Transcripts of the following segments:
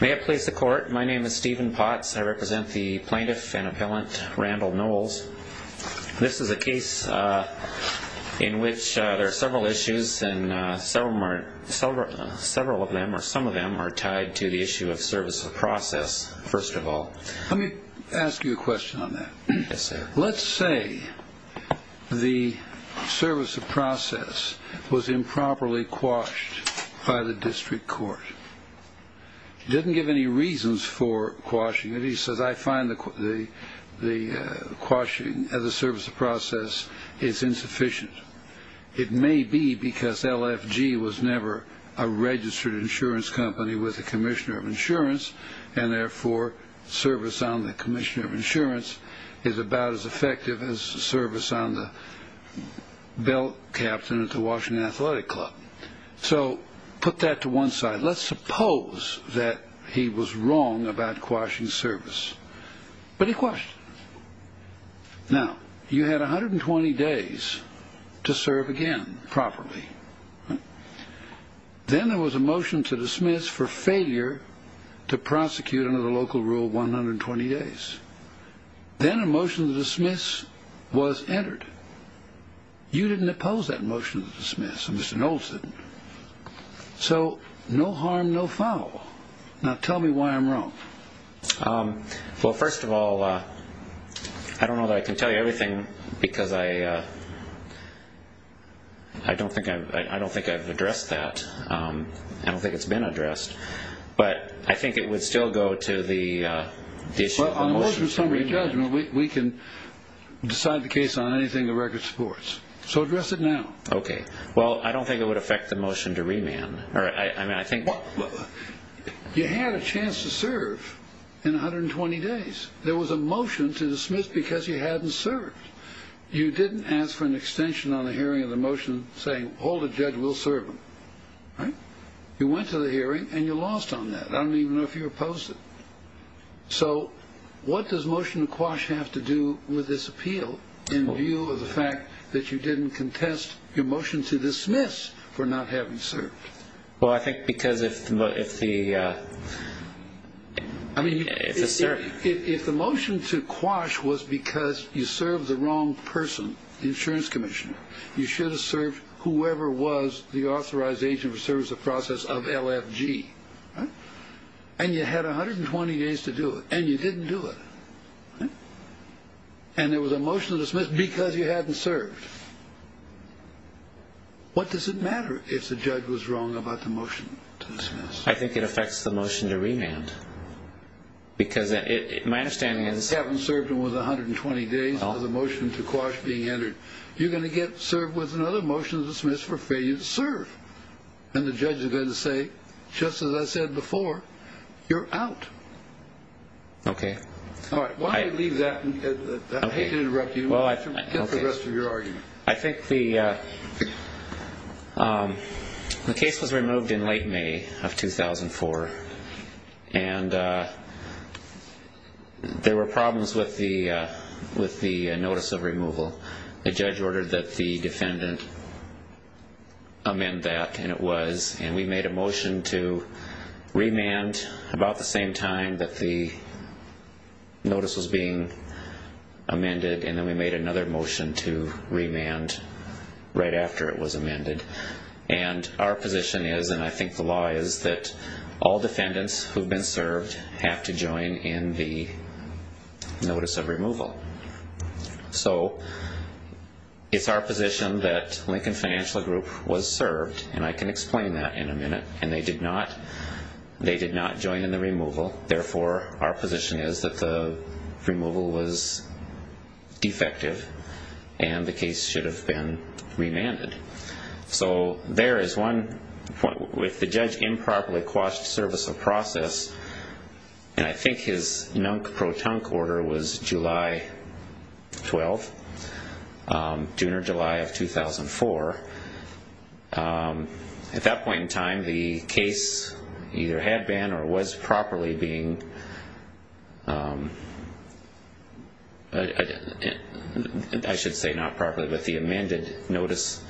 May it please the court my name is Stephen Potts I represent the plaintiff and appellant Randall Knowles. This is a case in which there are several issues and several of them or some of them are tied to the issue of service of process first of all. Let me ask you a question on that. Yes sir. Let's say the service of process was improperly quashed by the district court. He didn't give any reasons for quashing it. He says I find the quashing of the service of process is insufficient. It may be because LFG was never a registered insurance company with the commissioner of insurance and therefore service on the commissioner of insurance is about as effective as service on the belt captain at the Washington Athletic Club. So put that to one side. Let's suppose that he was wrong about quashing service. But he quashed it. Now you had 120 days to serve again properly. Then there was a motion to dismiss was entered. You didn't oppose that motion to dismiss. Mr. Knowles didn't. So no harm no foul. Now tell me why I'm wrong. Well first of all I don't know that I can tell you everything because I don't think I've addressed that. I don't think it's been decided the case on anything the record supports. So address it now. Okay. Well I don't think it would affect the motion to remand. All right. I mean I think you had a chance to serve in 120 days. There was a motion to dismiss because you hadn't served. You didn't ask for an extension on the hearing of the motion saying hold a judge will serve him. You went to the hearing and you lost on that. I don't even know if you opposed it. So what does the motion to quash have to do with this appeal in view of the fact that you didn't contest your motion to dismiss for not having served. Well I think because if the I mean if the motion to quash was because you served the wrong person the insurance commissioner you should have served whoever was the authorized agent for service of process of LFG. And you had 120 days to do it and you didn't do it. And there was a motion to dismiss because you hadn't served. What does it matter if the judge was wrong about the motion to dismiss. I think it affects the motion to remand because my understanding is. You haven't served him with 120 days of the motion to quash being entered. You're going to get served with another motion to dismiss for failure to serve. And the judge is going to say just as I said before you're out. Okay. All right. Well I believe that. I hate to interrupt you. Well I guess the rest of your argument. I think the case was removed in late May of 2004 and there were problems with the with the notice of removal. The judge ordered that the defendant amend that. And it was. And we made a motion to remand about the same time that the notice was being amended. And then we made another motion to remand right after it was amended. And our position is and I think the law is that all defendants who've been served have to join in the notice of removal. So it's our position that Lincoln Financial Group was served and I can explain that in a minute. And they did not. They did not join in the removal. Therefore our position is that the removal was defective and the case should have been remanded. So there is one point with the judge improperly quashed service of process. And I think his nunk protunk order was July 12th. June or July of 2004. At that point in time the case either had been or was properly being. I should say not properly but the amended notice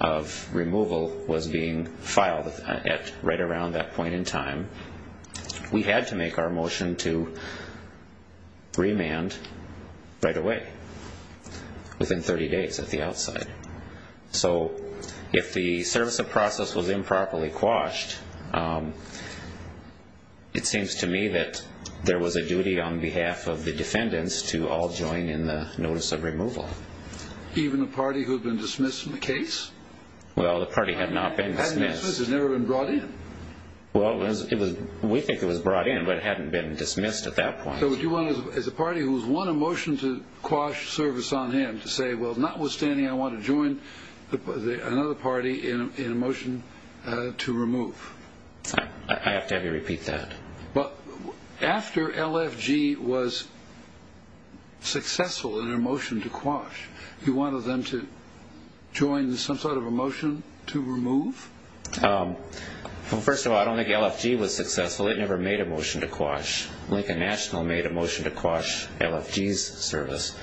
of removal was being filed at right around that point in time. We had to make our motion to remand right away. Within 30 days at the outside. So if the service of process was improperly quashed it seems to me that there was a duty on behalf of the defendants to all join in the notice of removal. Even the party who had been dismissed from the case? Well the party had not been dismissed. It had never been brought in. Well we think it was brought in but it hadn't been dismissed at that point. So as a party who has won a motion to quash service on him to say well notwithstanding I want to join another was successful in their motion to quash. You wanted them to join some sort of a motion to remove? Well first of all I don't think LFG was successful. It never made a motion to quash. Lincoln National made a motion to quash LFG's service.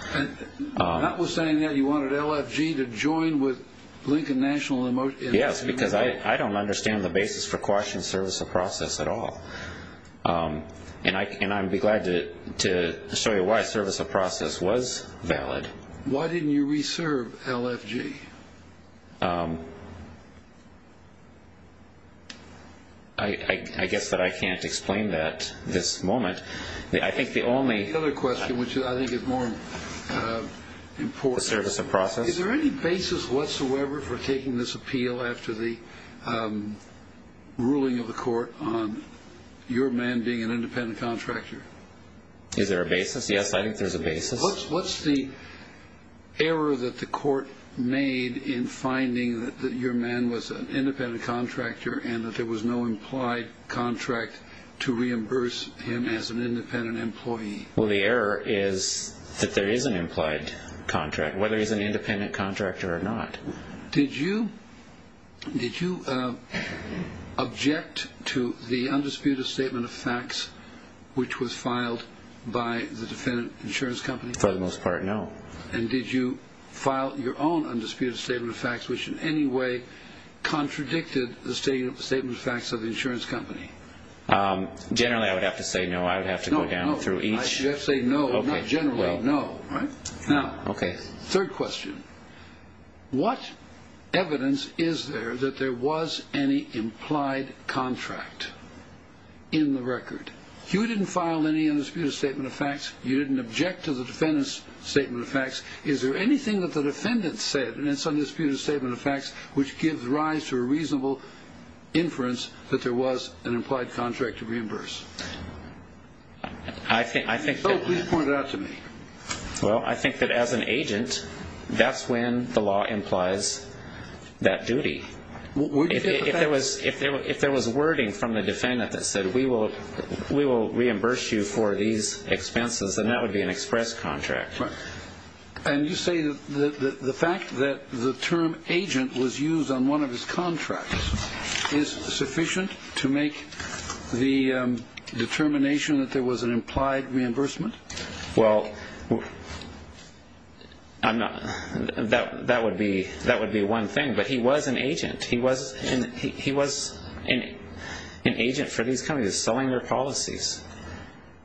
Notwithstanding that you wanted LFG to join with Lincoln National? Yes because I don't understand the basis for it. Let me show you why service of process was valid. Why didn't you reserve LFG? I guess that I can't explain that at this moment. The other question which I think is more important. Is there any basis whatsoever for taking this appeal after the ruling of the court on your man being an independent contractor? Is there a basis? Yes I think there's a basis. What's the error that the court made in finding that your man was an independent contractor and that there was no implied contract to reimburse him as an independent employee? Well the error is that there is an implied contract whether he's an independent contractor or not. Did you object to the undisputed statement of facts which was filed by the defendant insurance company? For the most part no. And did you file your own undisputed statement of facts which in any way contradicted the statement of facts of the insurance company? Generally I would have to say no. I would have to go down through each. You have to say no, not a third question. What evidence is there that there was any implied contract in the record? You didn't file any undisputed statement of facts. You didn't object to the defendant's statement of facts. Is there anything that the defendant said in its undisputed statement of facts which gives rise to a reasonable inference that there was an implied contract to reimburse? If so, please point it out to me. Well I think that as an agent, that's when the law implies that duty. If there was wording from the defendant that said we will reimburse you for these expenses, then that would be an express contract. And you say that the fact that the term agent was used on one of his contracts is sufficient to make the determination that there was an implied reimbursement? Well, that would be one thing. But he was an agent. He was an agent for these companies, selling their policies.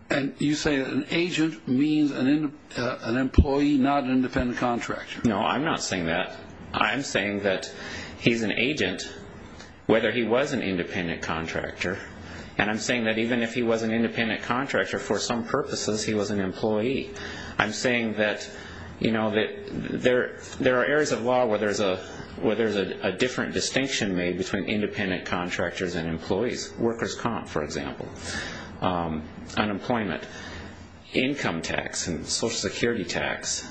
And you No, I'm not saying that. I'm saying that he's an agent whether he was an independent contractor. And I'm saying that even if he was an independent contractor, for some purposes he was an employee. I'm saying that there are areas of law where there's a different distinction made between independent contractors and employees. Workers' comp, for example. Unemployment. Income tax and Social Security tax.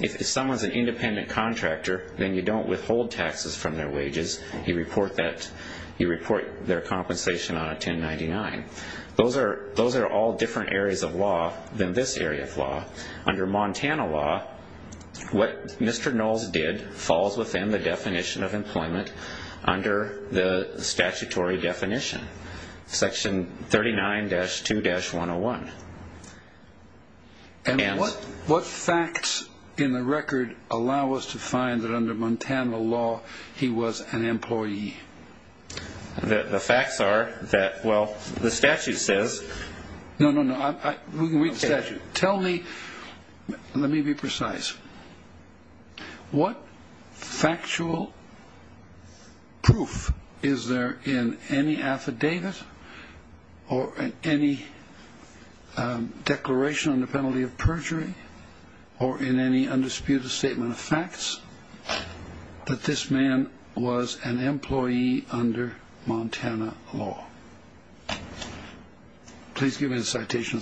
If someone's an independent contractor, then you don't withhold taxes from their wages. You report their compensation on a 1099. Those are all different areas of law than this area of law. Under Montana law, what Mr. Knowles did falls within the definition of employment under the statutory definition. Section 39-2-101. And what facts in the record allow us to find that under Montana law he was an employee? The facts are that, well, the statute says. No, no, no. Tell me, let me be precise. What factual proof is there in any affidavit or in any declaration on the penalty of perjury or in any undisputed statement of facts that this man was an employee under Montana law? Please give me the citation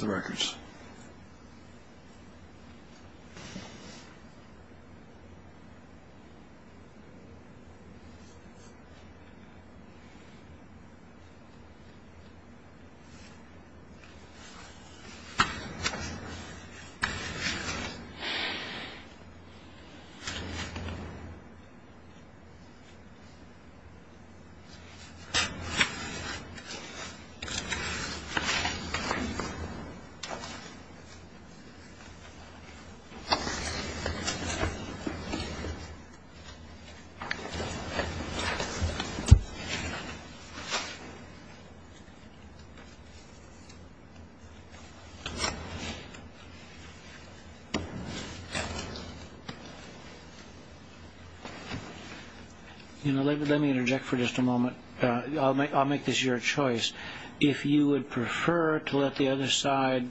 You know, let me interject for just a moment. I'll make this your choice. If you would prefer to let the other side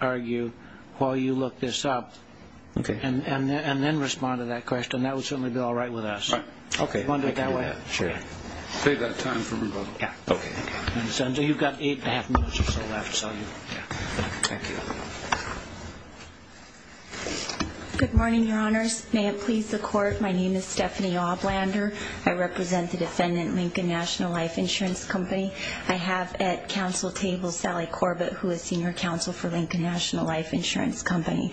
argue while you look this up and then respond to that question, that would certainly be all right with us. Okay. You want to do it that way? Sure. Save that time for me. Okay. Senator, you've got eight and a half minutes or so left, so. Good morning, Your Honors. May it please the Court, my name is Stephanie Oblander. I represent the defendant, Lincoln National Life Insurance Company. I have at counsel table Sally Corbett, who is senior counsel for Lincoln National Life Insurance Company.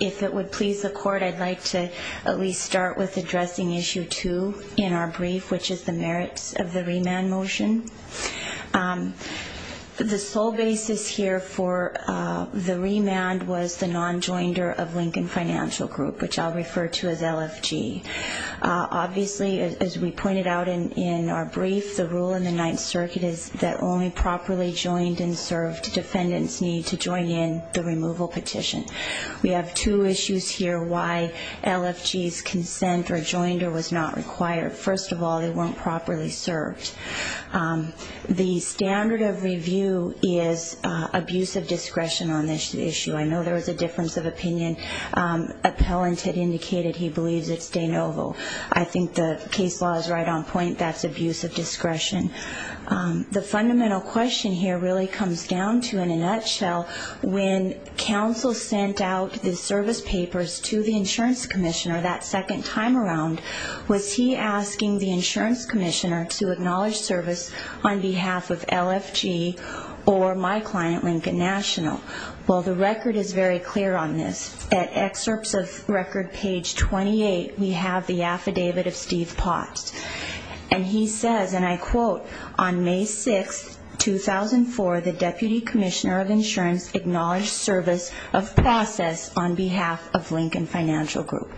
If it would please the Court, I'd like to at least start with addressing issue two in our brief, which is the merits of the remand motion. The sole basis here for the remand was the non-joinder of Lincoln Financial Group, which I'll refer to as LFG. Obviously, as we pointed out in our brief, the rule in the Ninth Circuit is that only properly joined and served defendants need to join in the removal petition. We have two issues here why LFG's consent or joinder was not required. First of all, they weren't properly served. The standard of review is abuse of discretion on this issue. I know there was a difference of opinion. Appellant had indicated he believes it's de novo. I think the case law is right on point. That's abuse of discretion. The fundamental question here really comes down to, in a nutshell, when counsel sent out the service papers to the insurance commissioner that second time around, was he asking the insurance commissioner to acknowledge service on behalf of LFG or my client, Lincoln National? Well, the record is very clear on this. At excerpts of record page 28, we have the affidavit of Steve Potts. And he says, and I quote, on May 6, 2004, the deputy commissioner of insurance acknowledged service of process on behalf of Lincoln Financial Group.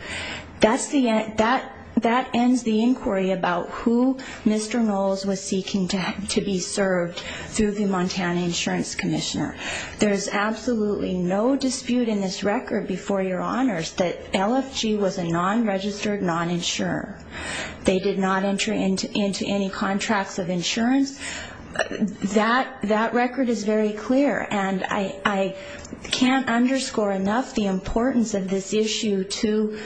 That ends the inquiry about who Mr. Knowles was seeking to be served through the insurance commissioner. There's absolutely no dispute in this record before your honors that LFG was a non-registered non-insurer. They did not enter into any contracts of insurance. That record is very clear. And I can't underscore enough the importance of this issue to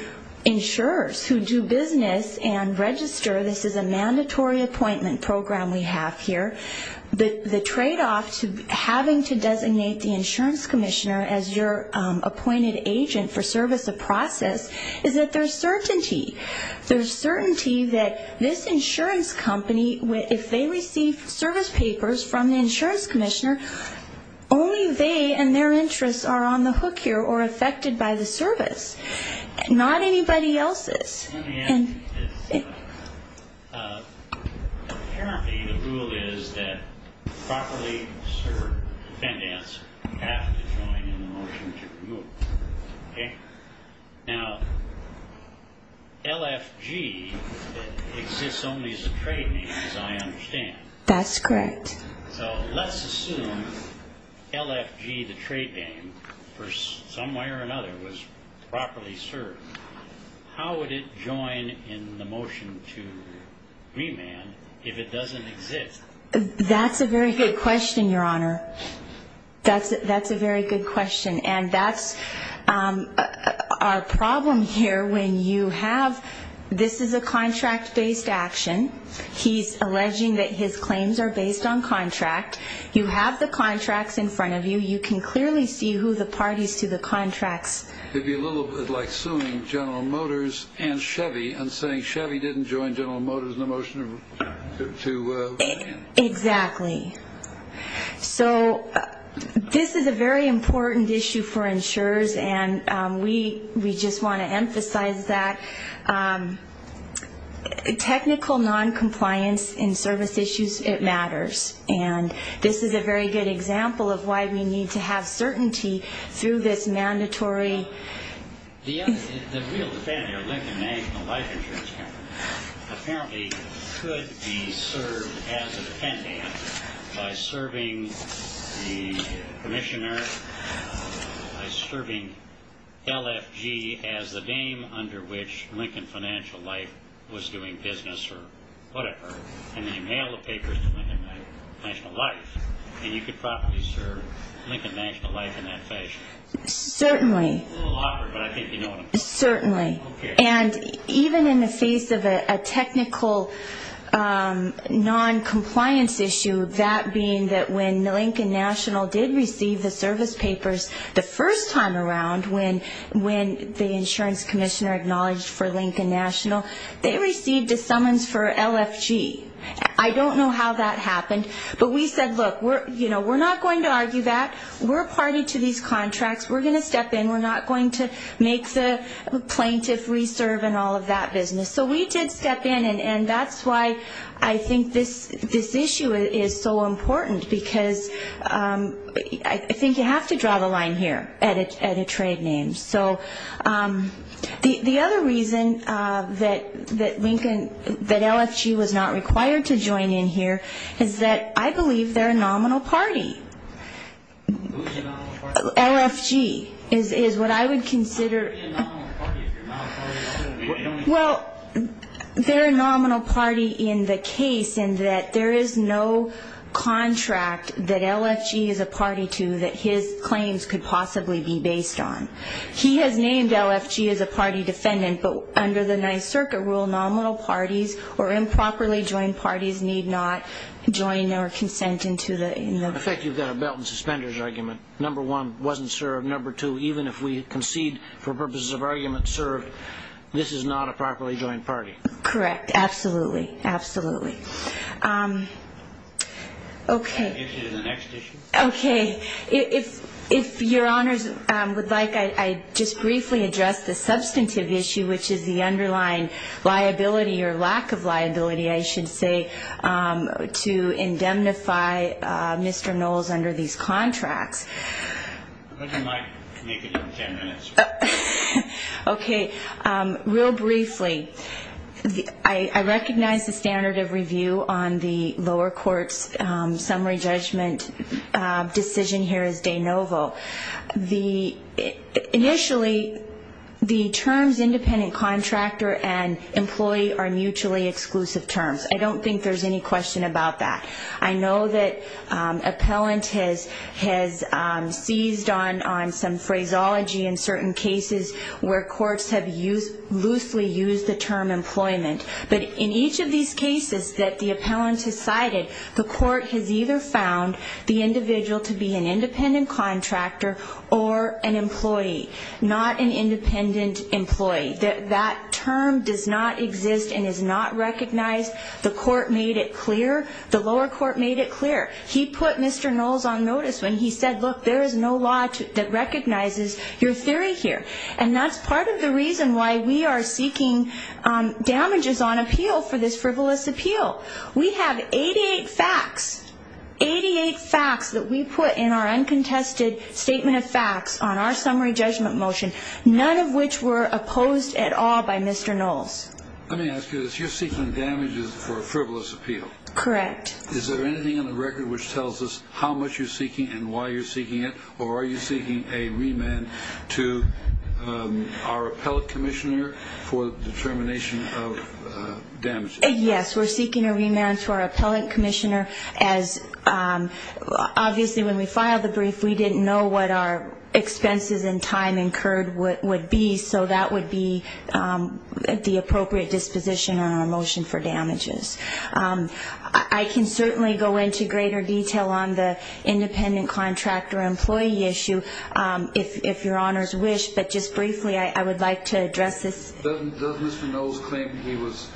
insurers who do business and register. This is a mandatory appointment program we have here. The tradeoff to having to designate the insurance commissioner as your appointed agent for service of process is that there's certainty. There's certainty that this insurance company, if they receive service papers from the insurance commissioner, only they and their interests are on the hook here or affected by the service. Not anybody else's. Let me ask you this. Apparently, the rule is that properly served defendants have to join in the motion to remove. Now, LFG exists only as a trade name, as I understand. That's correct. So let's assume LFG, the trade name, for some way or another was properly served. How would it join in the motion to remand if it doesn't exist? That's a very good question, your honor. That's a very good question. And that's our problem here when you have, this is a contract-based action. He's alleging that his claims are based on contract. You have the contracts in front of you. You can clearly see who the parties to the contracts It would be a little bit like suing General Motors and Chevy and saying Chevy didn't join General Motors in the motion to remand. Exactly. So this is a very important issue for insurers, and we just want to emphasize that. Technical noncompliance in service issues, it matters. And this is a very good example of why we need to have certainty through this mandatory The real defendant here, Lincoln National Life Insurance Company, apparently could be served as a defendant by serving the commissioner, by serving LFG as the name under which Lincoln Financial Life was doing business or whatever. And then you mail the papers to Lincoln National Life and you could properly serve Lincoln National Life in that fashion. It's a little awkward, but I think you know what I'm saying. Certainly. And even in the face of a technical noncompliance issue, that being that when Lincoln National did receive the service papers the first time around, when the insurance commissioner acknowledged for Lincoln National, they received a summons for LFG. I don't know how that happened, but we said, look, we're not going to argue that. We're a party to these contracts. We're going to step in. We're not going to make the plaintiff reserve and all of that business. So we did step in, and that's why I think this issue is so important, because I think you have to draw the line here at a trade name. So the other reason that LFG was not required to join in here is that I believe they're a nominal party. LFG is what I would consider. Well, they're a nominal party in the case in that there is no contract that LFG is a party to that his claims could possibly be based on. He has named LFG as a party defendant, but under the Ninth Circuit rule, nominal parties or improperly joined parties need not join or consent into the. In fact, you've got a belt and suspenders argument. Number one, wasn't served. Number two, even if we concede for purposes of argument served, this is not a properly joined party. Correct. Absolutely. Absolutely. Okay. The next issue. Okay. If your honors would like, I'd just briefly address the substantive issue, which is the underlying liability or lack of liability, I should say, to indemnify Mr. Knowles under these contracts. You might make it in 10 minutes. Okay. Real briefly, I recognize the standard of review on the lower court's summary judgment decision here as de novo. Initially, the terms independent contractor and employee are mutually exclusive terms. I don't think there's any question about that. I know that appellant has seized on some phraseology in certain cases where courts have loosely used the term employment. But in each of these cases that the appellant has cited, the court has either found the individual to be an independent contractor or an employee, not an independent employee. That term does not exist and is not recognized. The court made it clear. The lower court made it clear. He put Mr. Knowles on notice when he said, look, there is no law that recognizes your theory here. And that's part of the reason why we are seeking damages on appeal for this frivolous appeal. We have 88 facts, 88 facts that we put in our uncontested statement of facts on our summary judgment motion, none of which were opposed at all by Mr. Knowles. Let me ask you this. You're seeking damages for a frivolous appeal. Correct. Is there anything on the record which tells us how much you're seeking and why you're seeking it? Or are you seeking a remand to our appellant commissioner for the termination of damages? Yes, we're seeking a remand to our appellant commissioner. Obviously, when we filed the brief, we didn't know what our expenses and time incurred would be. So that would be the appropriate disposition on our motion for damages. I can certainly go into greater detail on the independent contractor employee issue if your honors wish. But just briefly, I would like to address this. Does Mr. Knowles claim he was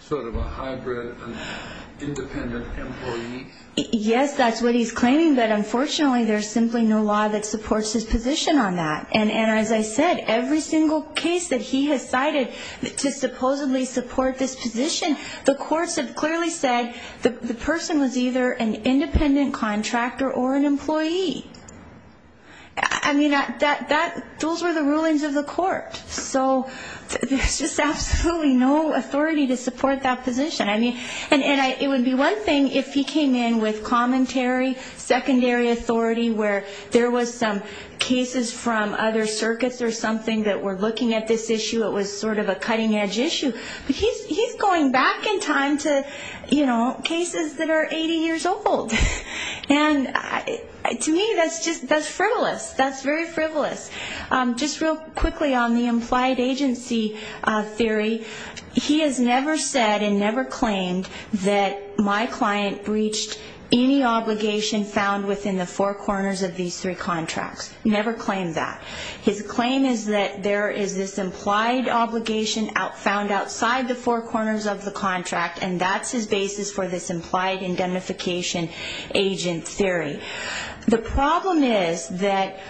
sort of a hybrid independent employee? Yes, that's what he's claiming. But unfortunately, there's simply no law that supports his position on that. And as I said, every single case that he has cited to supposedly support this position, the courts have clearly said the person was either an independent contractor or an employee. I mean, those were the rulings of the court. So there's just absolutely no authority to support that position. And it would be one thing if he came in with commentary, secondary authority, where there was some cases from other circuits or something that were looking at this issue. It was sort of a cutting-edge issue. But he's going back in time to, you know, cases that are 80 years old. And to me, that's frivolous. That's very frivolous. Just real quickly on the implied agency theory, he has never said and never claimed that my client breached any obligation found within the four corners of these three contracts. Never claimed that. His claim is that there is this implied obligation found outside the four corners of the contract, and that's his basis for this implied indemnification agent theory. The problem is that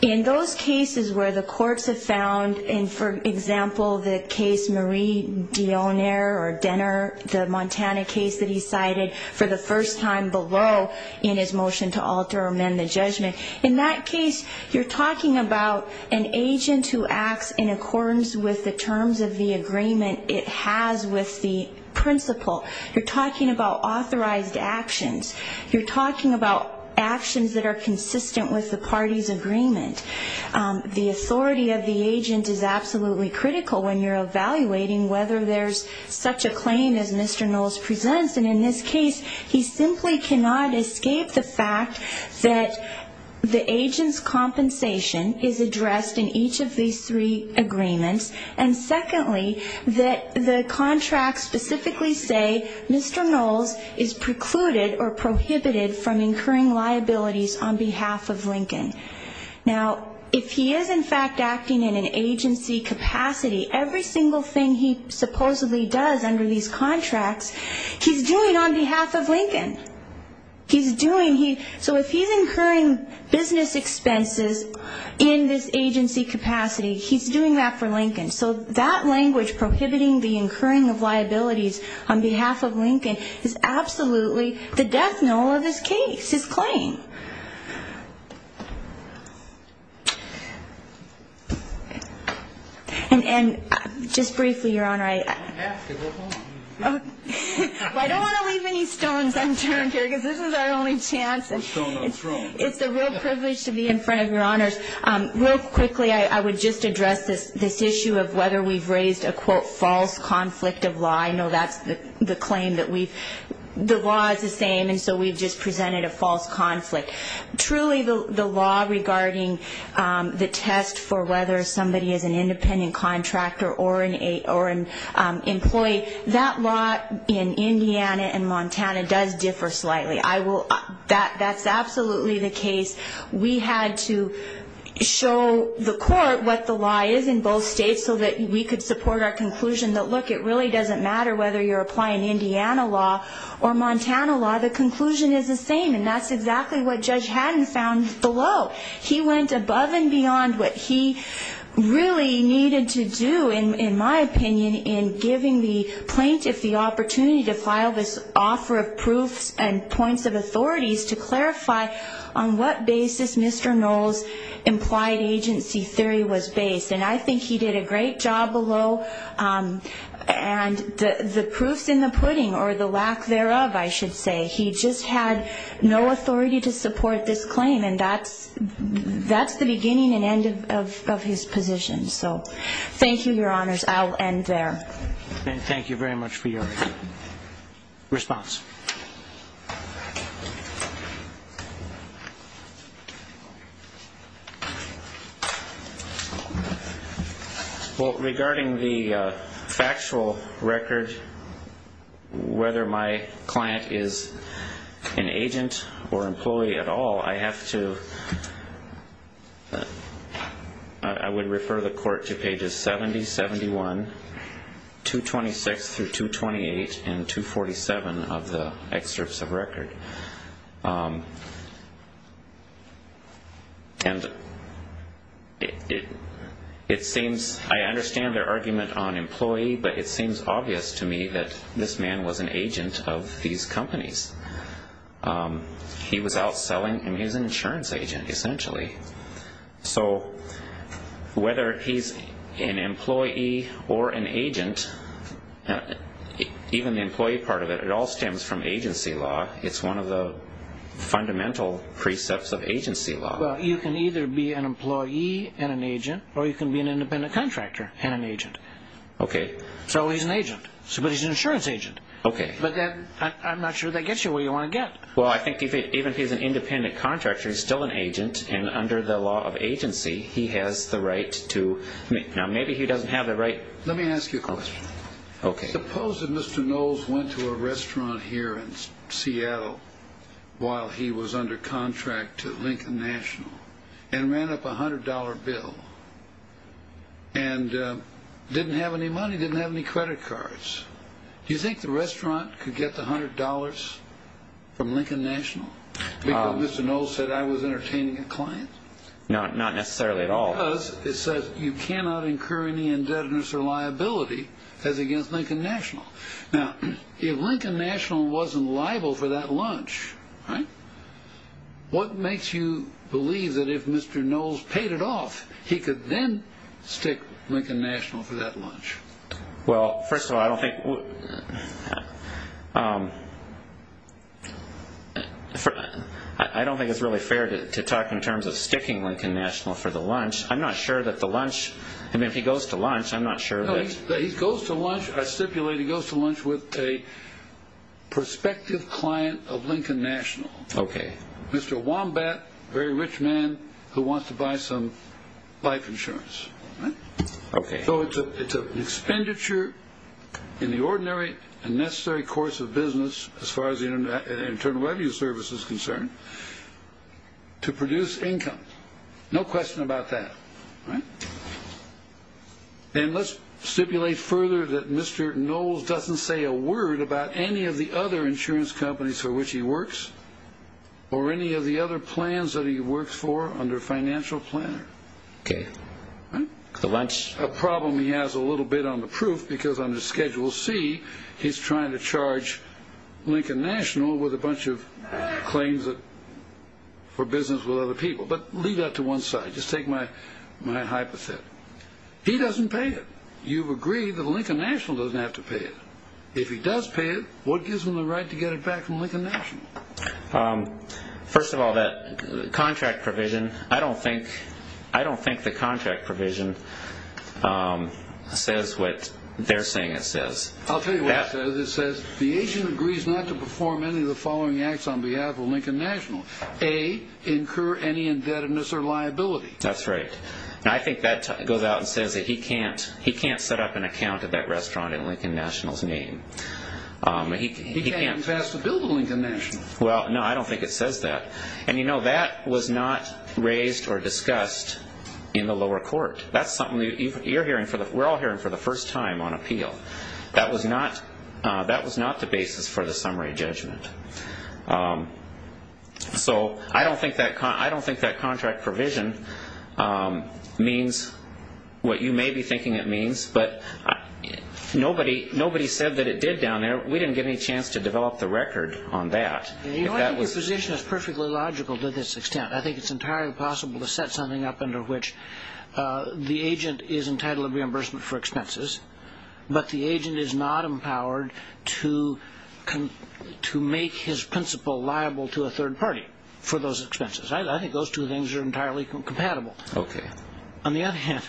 in those cases where the courts have found, and for example, the case Marie Dionner or Denner, the Montana case that he cited for the first time below in his motion to alter or amend the judgment, in that case, you're talking about an agent who acts in accordance with the terms of the agreement it has with the principal. You're talking about authorized actions. You're talking about actions that are consistent with the party's agreement. The authority of the agent is absolutely critical when you're evaluating whether there's such a claim as Mr. Knowles presents. And in this case, he simply cannot escape the fact that the agent's compensation is addressed in each of these three agreements. And secondly, that the contracts specifically say Mr. Knowles is precluded or prohibited from incurring liabilities on behalf of Lincoln. Now, if he is in fact acting in an agency capacity, every single thing he supposedly does under these contracts, he's doing on behalf of Lincoln. So if he's incurring business expenses in this agency capacity, he's doing that for Lincoln. So that language, prohibiting the incurring of liabilities on behalf of Lincoln, is absolutely the death knell of his case, his claim. And just briefly, Your Honor, I don't want to leave any stones unturned. This is our only chance. It's a real privilege to be in front of Your Honors. Real quickly, I would just address this issue of whether we've raised a, quote, false conflict of law. I know that's the claim that we've the law is the same, and so we've just presented a false conflict. Truly, the law regarding the test for whether somebody is an independent contractor or an employee, that law in Indiana and Montana does differ slightly. That's absolutely the case. We had to show the court what the law is in both states so that we could support our conclusion that, look, it really doesn't matter whether you're applying Indiana law or Montana law. The conclusion is the same, and that's exactly what Judge Haddon found below. He went above and beyond what he really needed to do, in my opinion, in giving the plaintiff the opportunity to file this offer of proofs and points of authorities to clarify on what basis Mr. Knoll's implied agency theory was based. And I think he did a great job below, and the proof's in the pudding, or the lack thereof, I should say. He just had no authority to support this claim, and that's the beginning and end of his position. So thank you, Your Honors. I'll end there. Thank you very much for your response. Well, regarding the factual record, whether my client is an agent or employee at all, I have to – I would refer the court to pages 70, 71, 226 through 228, and 247 of the excerpts of record. And it seems – I understand their argument on employee, but it seems obvious to me that this man was an agent of these companies. He was outselling him. He was an insurance agent, essentially. So whether he's an employee or an agent, even the employee part of it, it all stems from agency law. It's one of the fundamental precepts of agency law. Well, you can either be an employee and an agent, or you can be an independent contractor and an agent. Okay. So he's an agent, but he's an insurance agent. Okay. But I'm not sure that gets you where you want to get. Well, I think even if he's an independent contractor, he's still an agent. And under the law of agency, he has the right to – now, maybe he doesn't have the right – Let me ask you a question. Okay. Suppose that Mr. Knowles went to a restaurant here in Seattle while he was under contract to Lincoln National and ran up a $100 bill and didn't have any money, didn't have any credit cards. Do you think the restaurant could get the $100 from Lincoln National because Mr. Knowles said, I was entertaining a client? Not necessarily at all. Because it says, you cannot incur any indebtedness or liability as against Lincoln National. Now, if Lincoln National wasn't liable for that lunch, right, what makes you believe that if Mr. Knowles paid it off, he could then stick Lincoln National for that lunch? Well, first of all, I don't think – I don't think it's really fair to talk in terms of sticking Lincoln National for the lunch. I'm not sure that the lunch – I mean, if he goes to lunch, I'm not sure that – No, he goes to lunch – I stipulate he goes to lunch with a prospective client of Lincoln National. Okay. Mr. Wombat, a very rich man who wants to buy some life insurance. Okay. So it's an expenditure in the ordinary and necessary course of business as far as the Internal Revenue Service is concerned to produce income. No question about that. All right. And let's stipulate further that Mr. Knowles doesn't say a word about any of the other insurance companies for which he works or any of the other plans that he works for under financial planner. Okay. The lunch – A problem he has a little bit on the proof because under Schedule C, he's trying to charge Lincoln National with a bunch of claims for business with other people. But leave that to one side. Just take my hypothesis. He doesn't pay it. You've agreed that Lincoln National doesn't have to pay it. If he does pay it, what gives him the right to get it back from Lincoln National? First of all, that contract provision, I don't think the contract provision says what they're saying it says. I'll tell you what it says. It says the agent agrees not to perform any of the following acts on behalf of Lincoln National. A, incur any indebtedness or liability. That's right. And I think that goes out and says that he can't set up an account at that restaurant in Lincoln National's name. He can't pass a bill to Lincoln National. Well, no, I don't think it says that. And you know, that was not raised or discussed in the lower court. That's something we're all hearing for the first time on appeal. That was not the basis for the summary judgment. So I don't think that contract provision means what you may be thinking it means, but nobody said that it did down there. We didn't get any chance to develop the record on that. You know, I think your position is perfectly logical to this extent. I think it's entirely possible to set something up under which the agent is entitled to reimbursement for expenses, but the agent is not empowered to make his principal liable to a third party for those expenses. I think those two things are entirely compatible. On the other hand,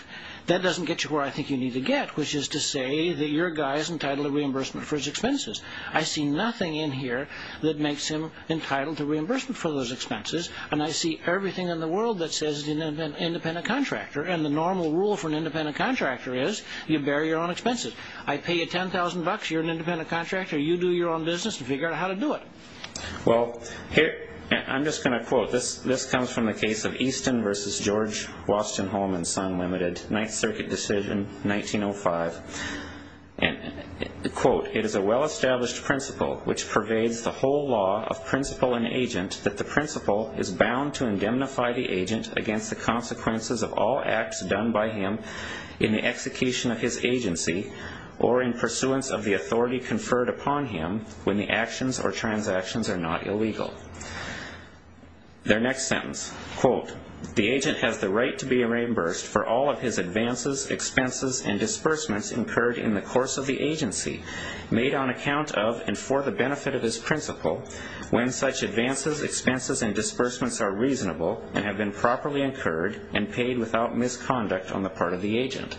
that doesn't get you where I think you need to get, which is to say that your guy is entitled to reimbursement for his expenses. I see nothing in here that makes him entitled to reimbursement for those expenses, and I see everything in the world that says he's an independent contractor, and the normal rule for an independent contractor is you bear your own expenses. I pay you $10,000, you're an independent contractor, you do your own business to figure out how to do it. Well, I'm just going to quote. This comes from the case of Easton v. George Washington Home and Son Ltd., 9th Circuit decision, 1905. Quote, it is a well-established principle which pervades the whole law of principal and agent that the principal is bound to indemnify the agent against the consequences of all acts done by him in the execution of his agency or in pursuance of the authority conferred upon him when the actions or transactions are not illegal. Their next sentence. Quote, the agent has the right to be reimbursed for all of his advances, expenses, and disbursements incurred in the course of the agency made on account of and for the benefit of his principal when such advances, expenses, and disbursements are reasonable and have been properly incurred and paid without misconduct on the part of the agent.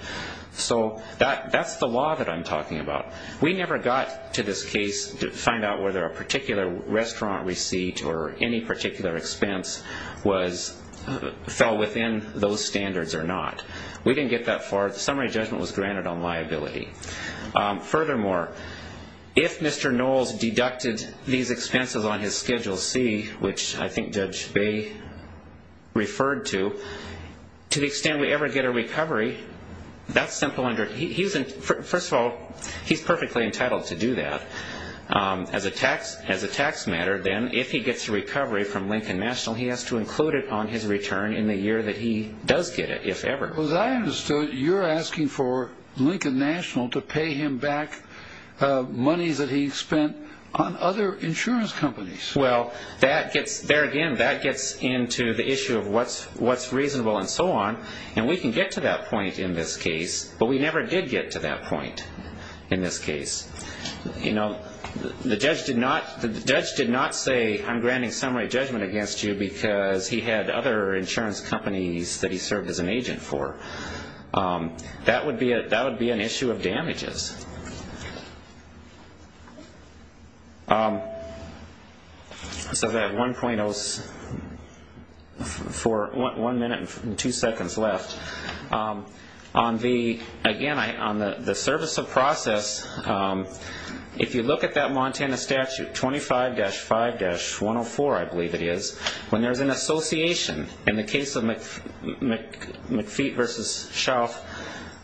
So that's the law that I'm talking about. We never got to this case to find out whether a particular restaurant receipt or any particular expense fell within those standards or not. We didn't get that far. The summary judgment was granted on liability. Furthermore, if Mr. Knowles deducted these expenses on his Schedule C, which I think Judge Bay referred to, to the extent we ever get a recovery, that's simple. First of all, he's perfectly entitled to do that. As a tax matter, then, if he gets a recovery from Lincoln National, he has to include it on his return in the year that he does get it, if ever. Well, as I understood, you're asking for Lincoln National to pay him back monies that he spent on other insurance companies. Well, there again, that gets into the issue of what's reasonable and so on, and we can get to that point in this case, but we never did get to that point in this case. The judge did not say, I'm granting summary judgment against you because he had other insurance companies that he served as an agent for. So that 1.0 is for one minute and two seconds left. Again, on the service of process, if you look at that Montana statute 25-5-104, I believe it is, when there's an association, in the case of McFeet v. Shelf,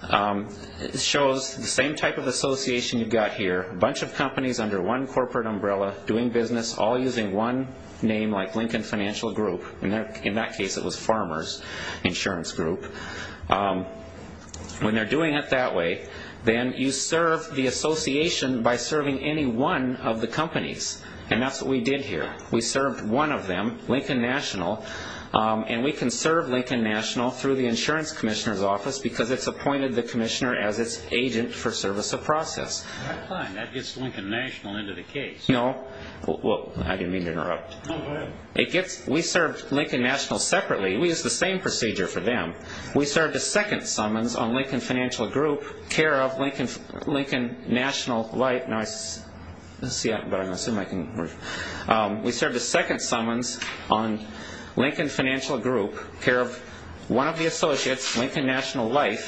it shows the same type of association you've got here. A bunch of companies under one corporate umbrella, doing business, all using one name like Lincoln Financial Group. In that case, it was Farmers Insurance Group. When they're doing it that way, then you serve the association by serving any one of the companies, and that's what we did here. We served one of them, Lincoln National, and we can serve Lincoln National through the insurance commissioner's office because it's appointed the commissioner as its agent for service of process. That gets Lincoln National into the case. I didn't mean to interrupt. We served Lincoln National separately. We used the same procedure for them. We served a second summons on Lincoln Financial Group, care of Lincoln National Light. Let's see. We served a second summons on Lincoln Financial Group, care of one of the associates, Lincoln National Light,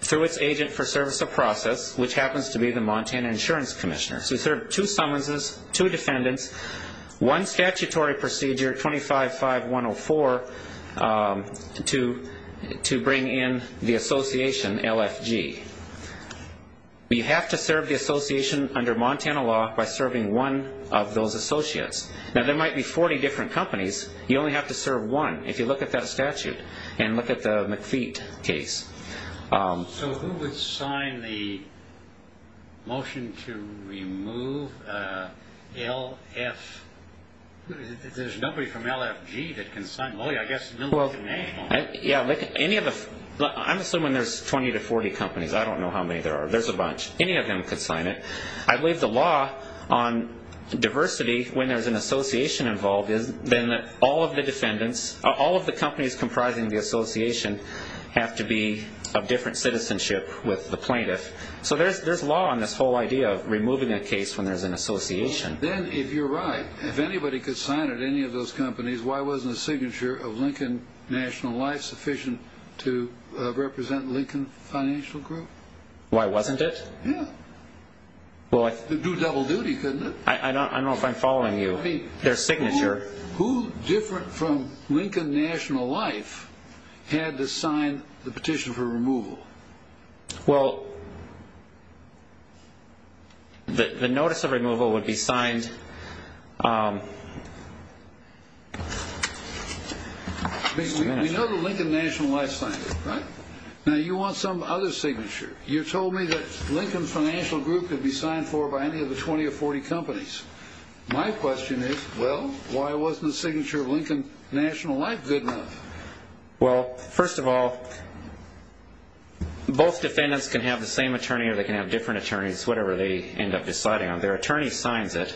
through its agent for service of process, which happens to be the Montana insurance commissioner. We served two summonses, two defendants, one statutory procedure, 25-5-104, to bring in the association, LFG. You have to serve the association under Montana law by serving one of those associates. Now, there might be 40 different companies. You only have to serve one if you look at that statute and look at the McFeet case. So who would sign the motion to remove LFG? There's nobody from LFG that can sign. Well, yeah, I guess nobody can sign. I'm assuming there's 20 to 40 companies. I don't know how many there are. There's a bunch. Any of them could sign it. I believe the law on diversity, when there's an association involved, is then that all of the companies comprising the association have to be of different citizenship with the plaintiff. So there's law on this whole idea of removing a case when there's an association. Then, if you're right, if anybody could sign it, any of those companies, why wasn't the signature of Lincoln National Life sufficient to represent Lincoln Financial Group? Why wasn't it? Yeah. It would do double duty, couldn't it? I don't know if I'm following you. Their signature. Well, the notice of removal would be signed. We know that Lincoln National Life signed it, right? Now, you want some other signature. You told me that Lincoln Financial Group could be signed for by any of the 20 or 40 companies. My question is, well, why wasn't the signature of Lincoln National Life good enough? Well, first of all, both defendants can have the same attorney or they can have different attorneys, whatever they end up deciding on. Their attorney signs it.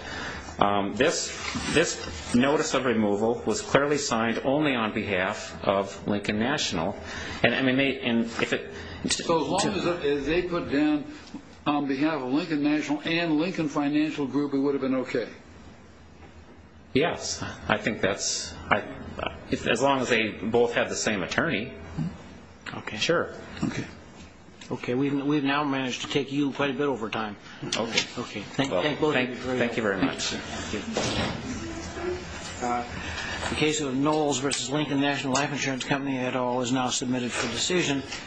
This notice of removal was clearly signed only on behalf of Lincoln National. So as long as they put down on behalf of Lincoln National and Lincoln Financial Group, it would have been okay? Yes. I think that's, as long as they both have the same attorney, sure. Okay. Okay. We've now managed to take you quite a bit over time. Okay. Thank you both. Thank you very much. Thank you. Thank you. The case of Knowles v. Lincoln National Life Insurance Company et al. is now submitted for decision.